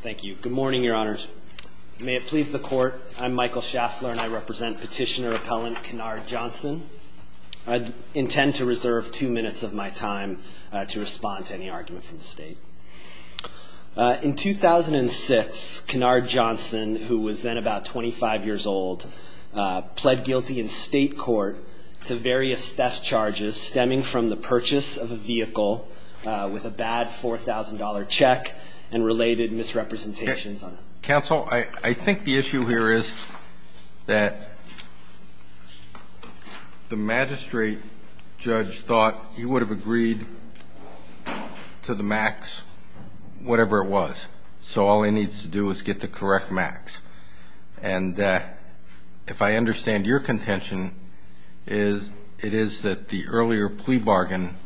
Thank you. Good morning, your honors. May it please the court, I'm Michael Schaffler, and I represent petitioner appellant Canard Johnson. I intend to reserve two minutes of my time to respond to any argument from the state. In 2006, Canard Johnson, who was then about 25 years old, pled guilty in state court to various theft charges stemming from the purchase of a vehicle with a bad $4,000 check and related misrepresentations on it. Counsel, I think the issue here is that the magistrate judge thought he would have agreed to the max whatever it was. So all he needs to do is get the correct max. And if I understand your contention, it is that the earlier plea bargain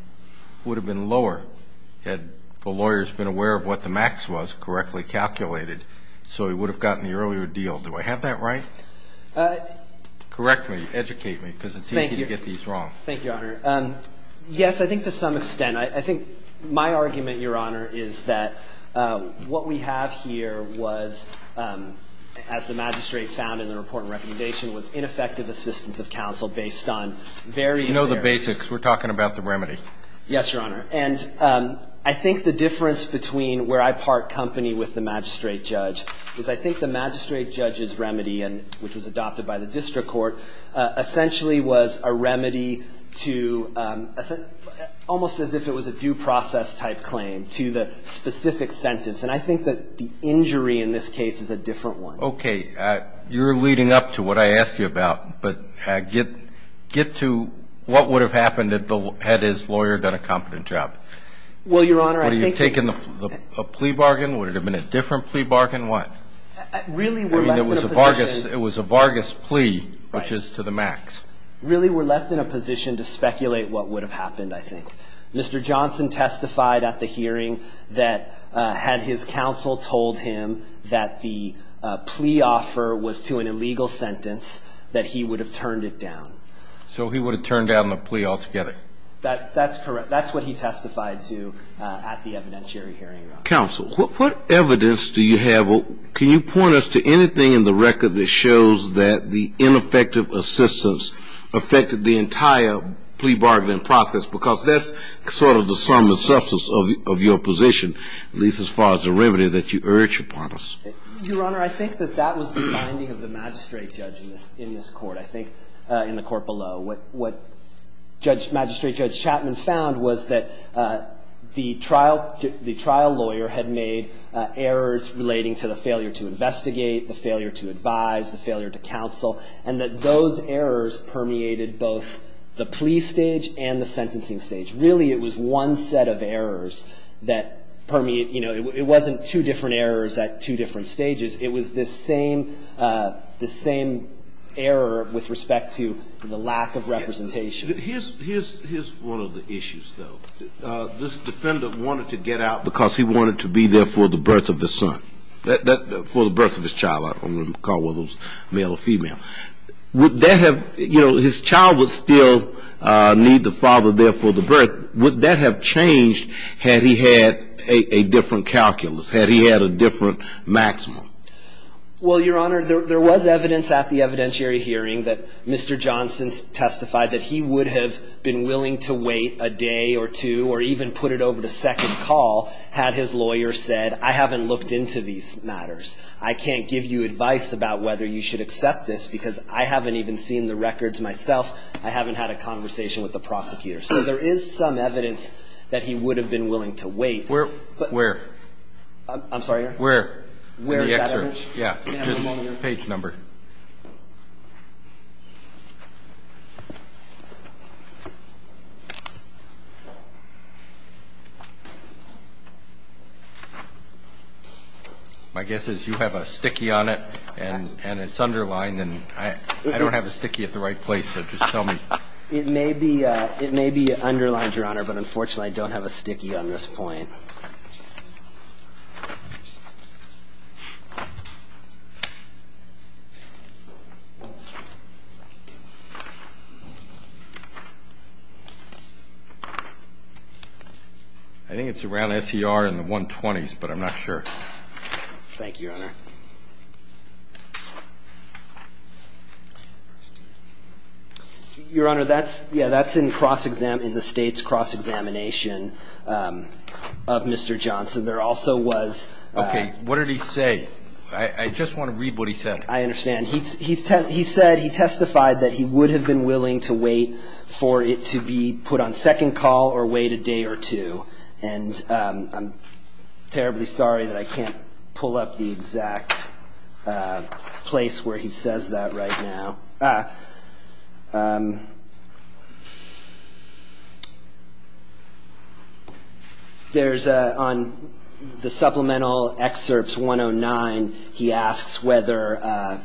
would have been lower had the lawyers been aware of what the max was correctly calculated, so he would have gotten the earlier deal. Do I have that right? Correct me, educate me, because it's easy to get these wrong. Thank you, your honor. Yes, I think to some extent. I think my argument, your honor, is that what we have here was, as the magistrate found in the report recommendation, was ineffective assistance of counsel based on various areas. You know the basics. We're talking about the remedy. Yes, your honor. And I think the difference between where I part company with the magistrate judge is I think the magistrate judge's remedy, which was adopted by the district court, essentially was a remedy to almost as if it was a due process type claim to the specific sentence. And I think that the injury in this case is a different one. OK, you're leading up to what I asked you about. But get to what would have happened had his lawyer done a competent job. Well, your honor, I think that's a plea bargain. Would it have been a different plea bargain? Really, we're left in a position. It was a Vargas plea, which is to the max. Really, we're left in a position to speculate what would have happened, I think. Mr. Johnson testified at the hearing that had his counsel told him that the plea offer was to an illegal sentence, that he would have turned it down. So he would have turned down the plea altogether. That's correct. That's what he testified to at the evidentiary hearing. Counsel, what evidence do you have? Can you point us to anything in the record that shows that the ineffective assistance affected the entire plea bargaining process? Because that's sort of the sum and substance of your position, at least as far as the remedy that you urge upon us. Your honor, I think that that was the finding of the magistrate judge in this court. I think in the court below, what magistrate judge Chapman found was that the trial lawyer had made errors relating to the failure to investigate, the failure to advise, the failure to counsel, and that those errors permeated both the plea stage and the sentencing stage. Really, it was one set of errors that permeate. It wasn't two different errors at two different stages. It was the same error with respect to the lack of representation. Here's one of the issues, though. This defendant wanted to get out because he wanted to be there for the birth of his son, for the birth of his child. I don't want to call one of those male or female. His child would still need the father there for the birth. Would that have changed had he had a different calculus, had he had a different maximum? Well, your honor, there was evidence at the evidentiary hearing that Mr. Johnson testified that he would have been willing to wait a day or two, or even put it over the second call, had his lawyer said, I haven't looked into these matters. I can't give you advice about whether you should accept this because I haven't even seen the records myself. I haven't had a conversation with the prosecutor. So there is some evidence that he would have been willing to wait. Where? I'm sorry? Where? Where is that evidence? Yeah, just page number. My guess is you have a sticky on it, and it's underlined. And I don't have a sticky at the right place, so just tell me. It may be underlined, your honor, but unfortunately, I don't have a sticky on this point. I think it's around SER in the 120s, but I'm not sure. Thank you, your honor. Your honor, that's in cross-examination in the state's cross-examination of Mr. Johnson. There also was. OK, what did he say? I just want to read what he said. I understand. He said he testified that he would have been willing to wait for it to be put on second call or wait a day or two. And I'm terribly sorry that I can't pull up the exact place where he says that right now. There's on the supplemental excerpts 109, he asks whether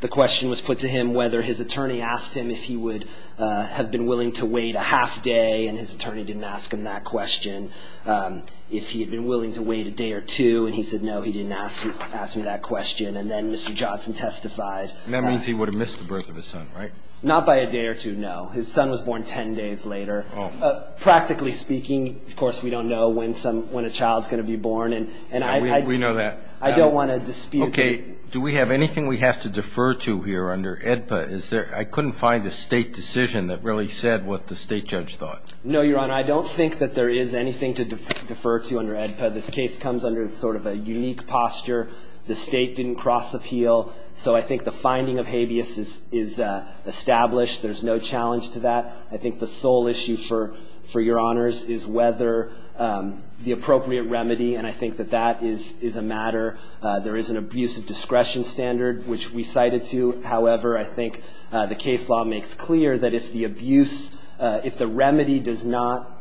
the question was put to him whether his attorney asked him if he would have been willing to wait a half day, and his attorney didn't ask him that question, if he had been willing to wait a day or two. And he said, no, he didn't ask me that question. And then Mr. Johnson testified. And that means he would have missed the birth of his son, right? Not by a day or two, no. His son was born 10 days later. Practically speaking, of course, we don't know when a child's going to be born. And we know that. I don't want to dispute that. Do we have anything we have to defer to here under AEDPA? I couldn't find a state decision that really said what the state judge thought. No, Your Honor, I don't think that there is anything to defer to under AEDPA. This case comes under sort of a unique posture. The state didn't cross appeal. So I think the finding of habeas is established. There's no challenge to that. I think the sole issue for your honors is whether the appropriate remedy, and I think that that is a matter. There is an abuse of discretion standard, which we cited to. However, I think the case law makes clear that if the abuse, if the remedy does not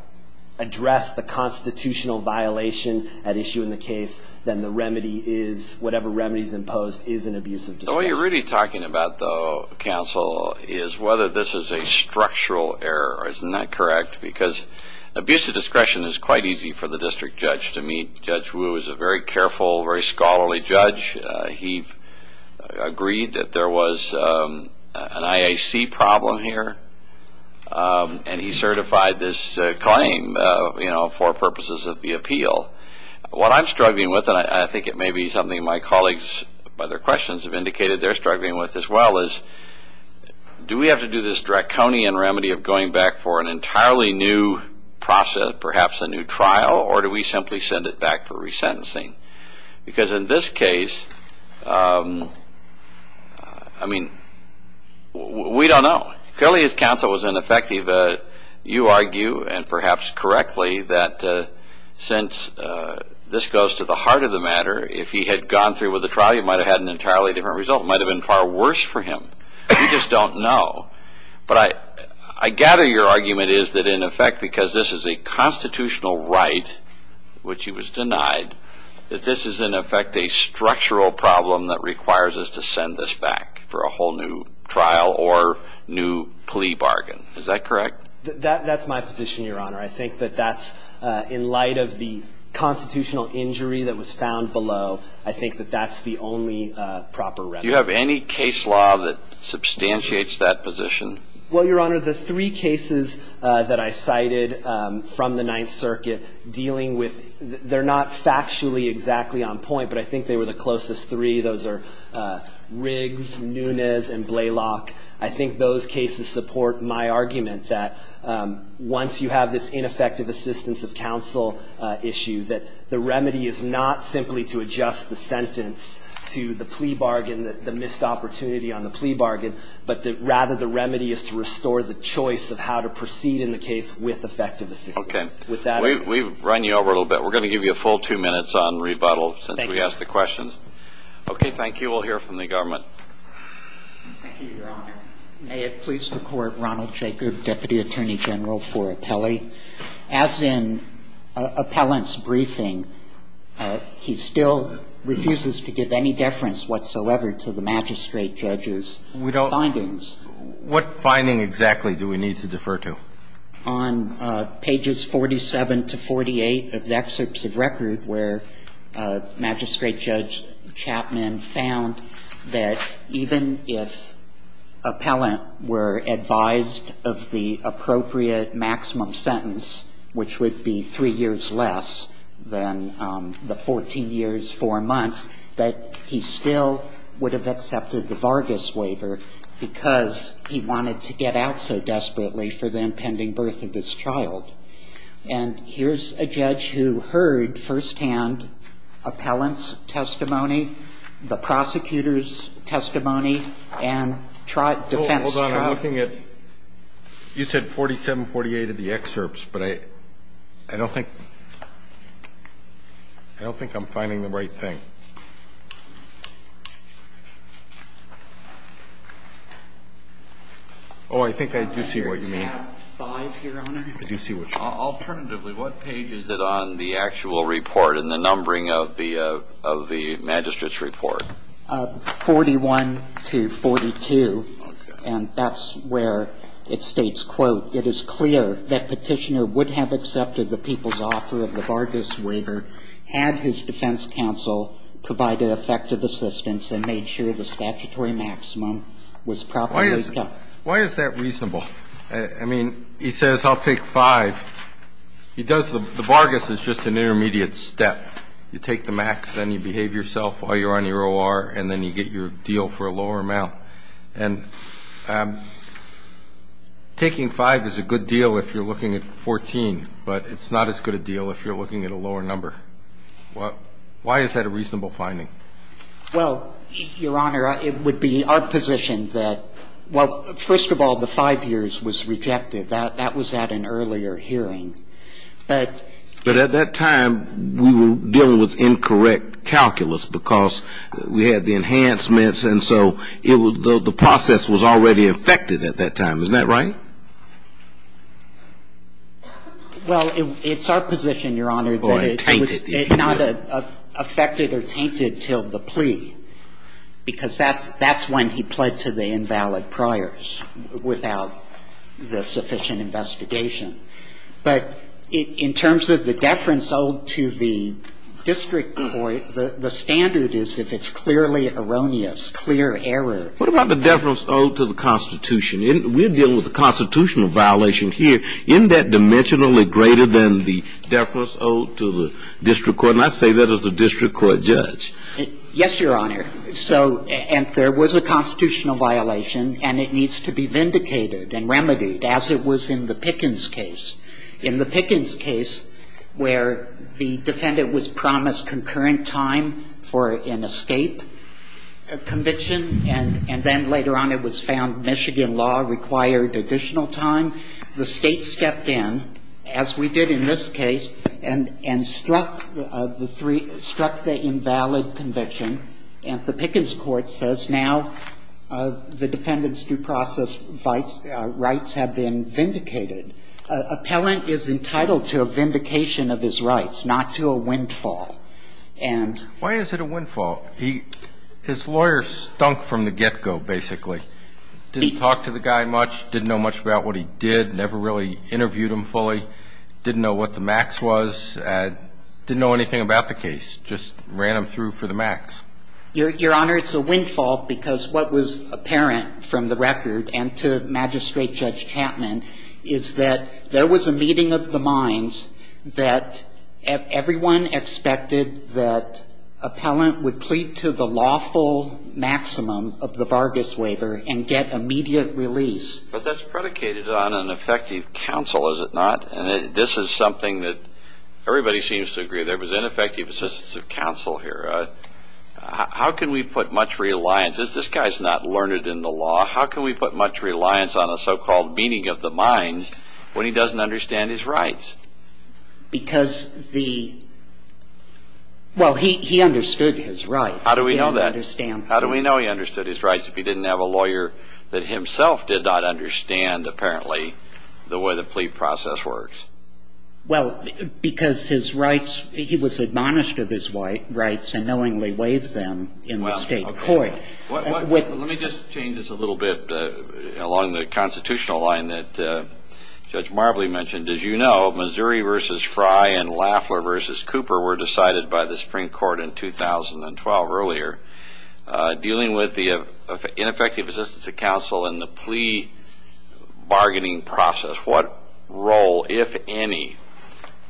address the constitutional violation at issue in the case, then the remedy is, whatever remedy is imposed, is an abuse of discretion. So what you're really talking about, though, counsel, is whether this is a structural error. Isn't that correct? Because abuse of discretion is quite easy for the district judge to meet. Judge Wu is a very careful, very scholarly judge. He agreed that there was an IAC problem here. And he certified this claim for purposes of the appeal. What I'm struggling with, and I think it may be something my colleagues by their questions have indicated they're struggling with as well, is do we have to do this draconian remedy of going back for an entirely new process, perhaps a new trial, or do we simply send it back for resentencing? Because in this case, I mean, we don't know. Clearly, his counsel was ineffective. You argue, and perhaps correctly, that since this goes to the heart of the matter, if he had gone through with the trial, he might have had an entirely different result. It might have been far worse for him. We just don't know. But I gather your argument is that, in effect, because this is a constitutional right, which he was denied, that this is, in effect, a structural problem that requires us to send this back for a whole new trial or new plea bargain. Is that correct? That's my position, Your Honor. I think that that's, in light of the constitutional injury that was found below, I think that that's the only proper remedy. Do you have any case law that substantiates that position? Well, Your Honor, the three cases that I cited from the Ninth Circuit dealing with, they're not factually exactly on point, but I think they were the closest three. Those are Riggs, Nunes, and Blaylock. I think those cases support my argument that once you have this ineffective assistance of counsel issue, that the remedy is not simply to adjust the sentence to the plea bargain, the missed opportunity on the plea bargain, but that, rather, the remedy is to restore the choice of how to proceed in the case with effective assistance. OK. With that, we've run you over a little bit. We're going to give you a full two minutes on rebuttal since we asked the questions. OK, thank you. We'll hear from the government. Thank you, Your Honor. May it please the Court, Ronald Jacob, Deputy Attorney General for Appellee. As in Appellant's briefing, he still refuses to give any deference whatsoever to the magistrate judge's findings. What finding exactly do we need to defer to? On pages 47 to 48 of the excerpts of record where Magistrate Judge Chapman found that even if Appellant were advised of the appropriate maximum sentence, which would be three years less than the 14 years, four months, that he still would have accepted the Vargas waiver because he wanted to get out so desperately for the impending birth of his child. And here's a judge who heard firsthand Appellant's testimony, the prosecutor's testimony, and defense which are here on the working edition. OK. I'm looking at 47, 48 of the excerpts. But I don't think, I don't think I'm finding the right thing. Oh, I think I do see what you mean. I have five, Your Honor. I do see what you mean. Alternatively, what page is it on the actual report and the numbering of the magistrate's report? 41 to 42. And that's where it states, quote, It is clear that Petitioner would have accepted the People's Offer of the Vargas Waiver had his defense counsel provided effective assistance and made sure the statutory maximum was properly cut. Why is that reasonable? I mean, he says, I'll take five. He does, the Vargas is just an intermediate step. You take the max, then you behave yourself while you're on your OR, and then you get your deal for a lower amount. And taking five is a good deal if you're looking at 14, but it's not as good a deal if you're looking at a lower number. Why is that a reasonable finding? Well, Your Honor, it would be our position that, well, first of all, the five years was rejected. That was at an earlier hearing. But at that time, we were dealing with incorrect calculus because we had the enhancements, and so it was the process was already affected at that time. Isn't that right? Well, it's our position, Your Honor, that it was not affected or tainted till the plea, because that's when he pled to the invalid priors without the sufficient investigation. But in terms of the deference owed to the district court, the standard is if it's clearly erroneous, clear error. What about the deference owed to the Constitution? We're dealing with a constitutional violation here. Isn't that dimensionally greater than the deference owed to the district court? And I say that as a district court judge. Yes, Your Honor. So there was a constitutional violation, and it needs to be vindicated and remedied, as it was in the Pickens case. In the Pickens case, where the defendant was promised concurrent time for an escape conviction, and then later on it was found Michigan law required additional time, the state stepped in, as we did in this case, and struck the invalid conviction. And the Pickens court says now the defendant's due process rights have been vindicated. Appellant is entitled to a vindication of his rights, not to a windfall. Why is it a windfall? His lawyer stunk from the get-go, basically. Didn't talk to the guy much, didn't know much about what he did, never really interviewed him fully. Didn't know what the max was, didn't know anything about the case, just ran him through for the max. Your Honor, it's a windfall because what was apparent from the record, and to Magistrate Judge Chapman, is that there was a meeting of the minds that everyone expected that appellant would plead to the lawful maximum of the Vargas waiver and get immediate release. But that's predicated on an effective counsel, is it not? And this is something that everybody seems to agree. There was ineffective assistance of counsel here. How can we put much reliance, as this guy's not learned in the law, how can we put much reliance on a so-called meeting of the minds when he doesn't understand his rights? Because the, well, he understood his rights. How do we know that? He understood his rights if he didn't have a lawyer that himself did not understand, apparently, the way the plea process works. Well, because his rights, he was admonished of his rights and knowingly waived them in the state court. Well, let me just change this a little bit along the constitutional line that Judge Marbley mentioned. As you know, Missouri v. Fry and Lafler v. Cooper were decided by the Supreme Court in 2012 earlier. Dealing with the ineffective assistance of counsel and the plea bargaining process, what role, if any,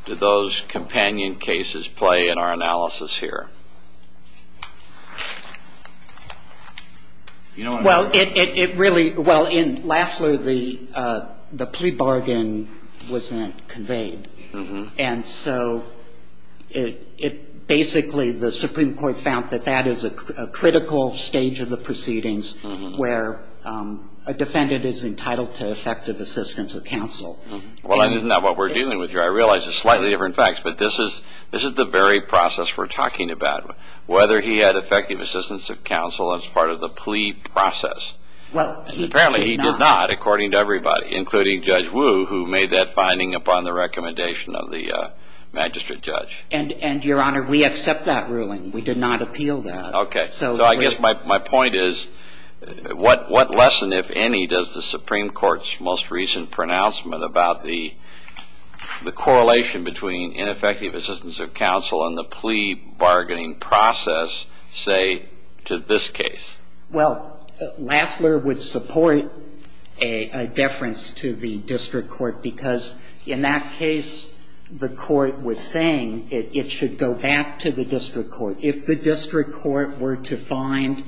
do those companion cases play in our analysis here? Well, it really, well, in Lafler, the plea bargain wasn't conveyed. And so it basically, the Supreme Court found that that is a critical stage of the proceedings where a defendant is entitled to effective assistance of counsel. Well, I didn't know what we're dealing with here. I realize it's slightly different facts, but this is the very process we're talking about. Whether he had effective assistance of counsel as part of the plea process. Well, he did not. Apparently, he did not, according to everybody, including Judge Wu, who made that finding upon the recommendation of the magistrate judge. And, Your Honor, we accept that ruling. We did not appeal that. OK. So I guess my point is, what lesson, if any, does the Supreme Court's most recent pronouncement about the correlation between ineffective assistance of counsel and the plea bargaining process say to this case? Well, Lafler would support a deference to the district court. Because in that case, the court was saying it should go back to the district court. If the district court were to find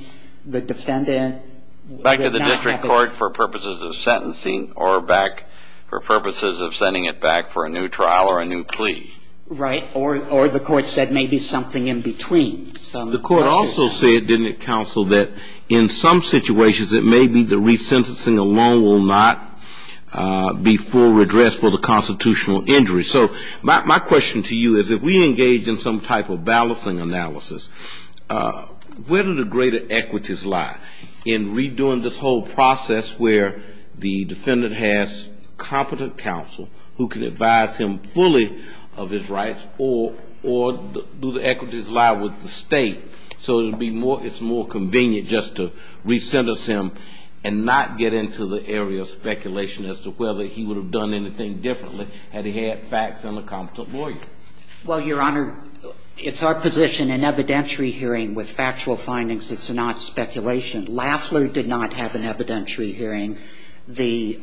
the defendant, it would not have this. Back to the district court for purposes of sentencing or back for purposes of sending it back for a new trial or a new plea. Right. Or the court said maybe something in between. The court also said, didn't it, counsel, that in some situations, it may be the resentencing alone will not be full redress for the constitutional injury. So my question to you is, if we engage in some type of balancing analysis, where do the greater equities lie in redoing this whole process where the defendant has competent counsel who can advise him fully of his rights or do the equities lie with the state? So it's more convenient just to resentence him and not get into the area of speculation as to whether he would have done anything differently had he had facts and a competent lawyer. Well, Your Honor, it's our position in evidentiary hearing with factual findings, it's not speculation. Lafler did not have an evidentiary hearing. The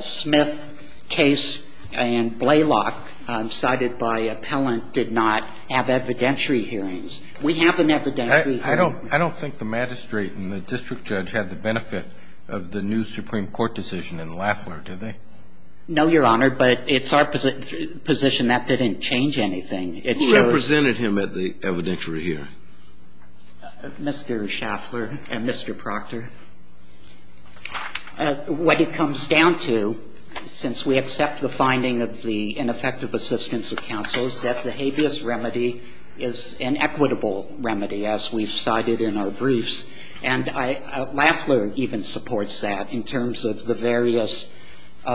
Smith case and Blaylock cited by appellant did not have evidentiary hearings. We have an evidentiary hearing. I don't think the magistrate and the district judge had the benefit of the new Supreme Court decision in Lafler, did they? No, Your Honor, but it's our position that didn't change anything. It shows you. Who represented him at the evidentiary hearing? Mr. Schaffler and Mr. Proctor. What it comes down to, since we accept the finding of the ineffective assistance of counsel, is that the habeas remedy is an equitable remedy, as we've cited in our briefs, and Lafler even supports that in terms of the various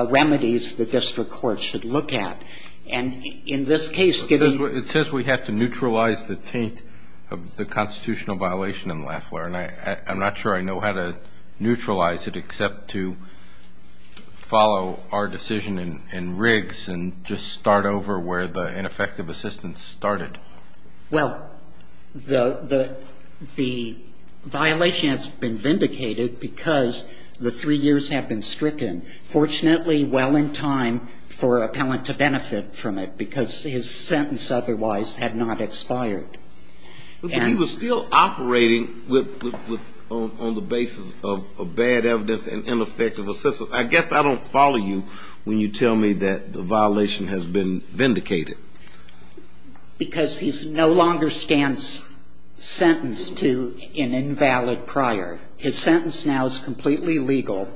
remedies the district court should look at, and in this case, getting to the point where it's not going to neutralize it except to follow our decision in Riggs and just start over where the ineffective assistance started. Well, the violation has been vindicated because the three years have been stricken. Fortunately, well in time for appellant to benefit from it because his sentence otherwise had not expired. But he was still operating on the basis of bad evidence and ineffective assistance. I guess I don't follow you when you tell me that the violation has been vindicated. Because he no longer stands sentenced to an invalid prior. His sentence now is completely legal,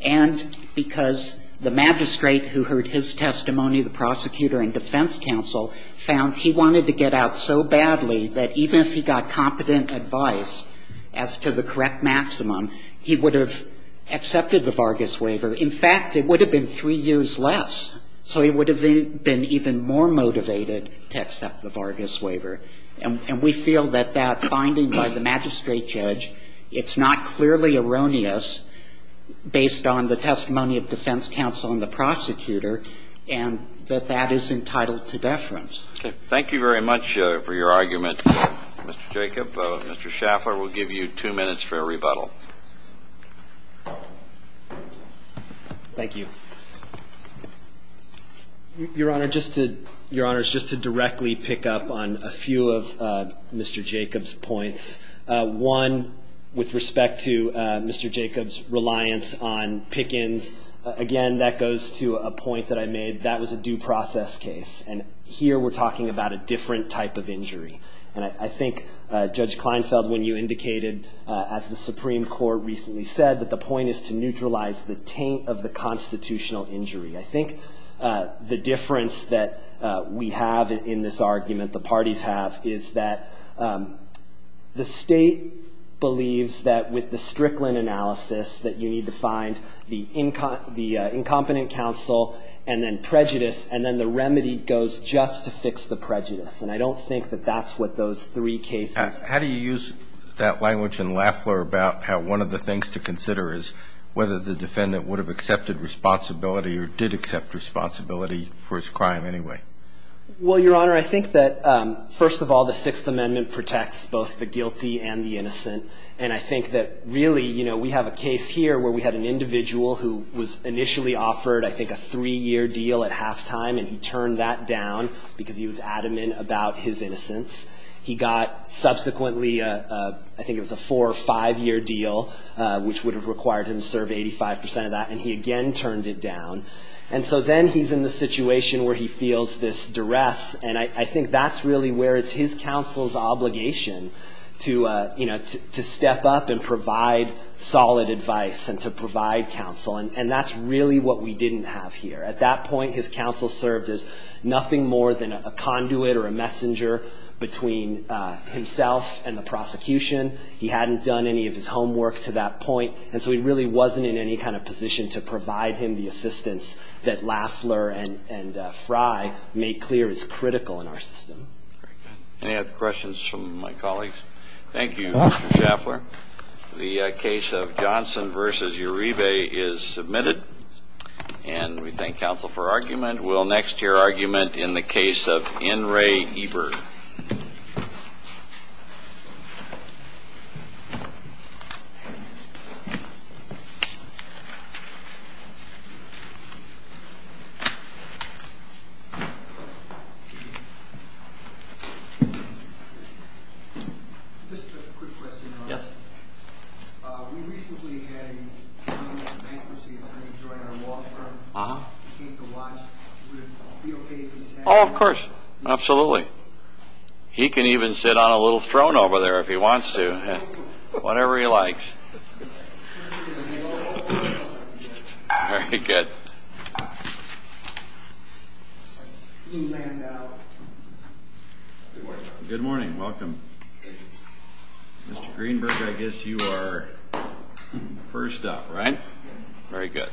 and because the magistrate who heard his testimony, the prosecutor and defense counsel, found he wanted to get out so badly that he even if he got competent advice as to the correct maximum, he would have accepted the Vargas waiver. In fact, it would have been three years less. So he would have been even more motivated to accept the Vargas waiver. And we feel that that finding by the magistrate judge, it's not clearly erroneous based on the testimony of defense counsel and the prosecutor, and that that is entitled to deference. Thank you very much for your argument, Mr. Jacob. Mr. Schaffler will give you two minutes for a rebuttal. Thank you. Your Honor, just to directly pick up on a few of Mr. Jacob's points. One, with respect to Mr. Jacob's reliance on pick-ins, again, that goes to a point that I made. That was a due process case. And here we're talking about a different type of injury. And I think Judge Kleinfeld, when you indicated, as the Supreme Court recently said, that the point is to neutralize the taint of the constitutional injury. I think the difference that we have in this argument, the parties have, is that the state believes that with the Strickland analysis that you need to find the incompetent counsel and then prejudice, and then the remedy goes just to fix the prejudice. And I don't think that that's what those three cases are. How do you use that language in Lafler about how one of the things to consider is whether the defendant would have accepted responsibility or did accept responsibility for his crime anyway? Well, Your Honor, I think that, first of all, the Sixth Amendment protects both the guilty and the innocent. And I think that, really, you know, we have a case here where we had an individual who was initially offered, I think, a three-year deal at halftime. And he turned that down because he was adamant about his innocence. He got, subsequently, I think it was a four- or five-year deal, which would have required him to serve 85 percent of that. And he, again, turned it down. And so then he's in the situation where he feels this duress. And I think that's really where it's his counsel's obligation to, you know, to step up and provide solid advice and to provide counsel. And that's really what we didn't have here. At that point, his counsel served as nothing more than a conduit or a messenger between himself and the prosecution. He hadn't done any of his homework to that point. And so he really wasn't in any kind of position to provide him the assistance that Lafler and Fry made clear is critical in our system. Very good. Any other questions from my colleagues? Thank you, Mr. Schaffler. The case of Johnson v. Uribe is submitted. And we thank counsel for argument. We'll next hear argument in the case of N. Ray Ebert. Just a quick question, Your Honor. Yes. We recently had a young bankruptcy attorney join our law firm to paint the watch. Would it be okay if he sat down? Oh, of course. Absolutely. He can even sit on a little throne over there if he wants to. Whatever he likes. Very good. Good morning. Welcome. Mr. Greenberg, I guess you are first up, right? Yes. Very good. Thank you. Thank you.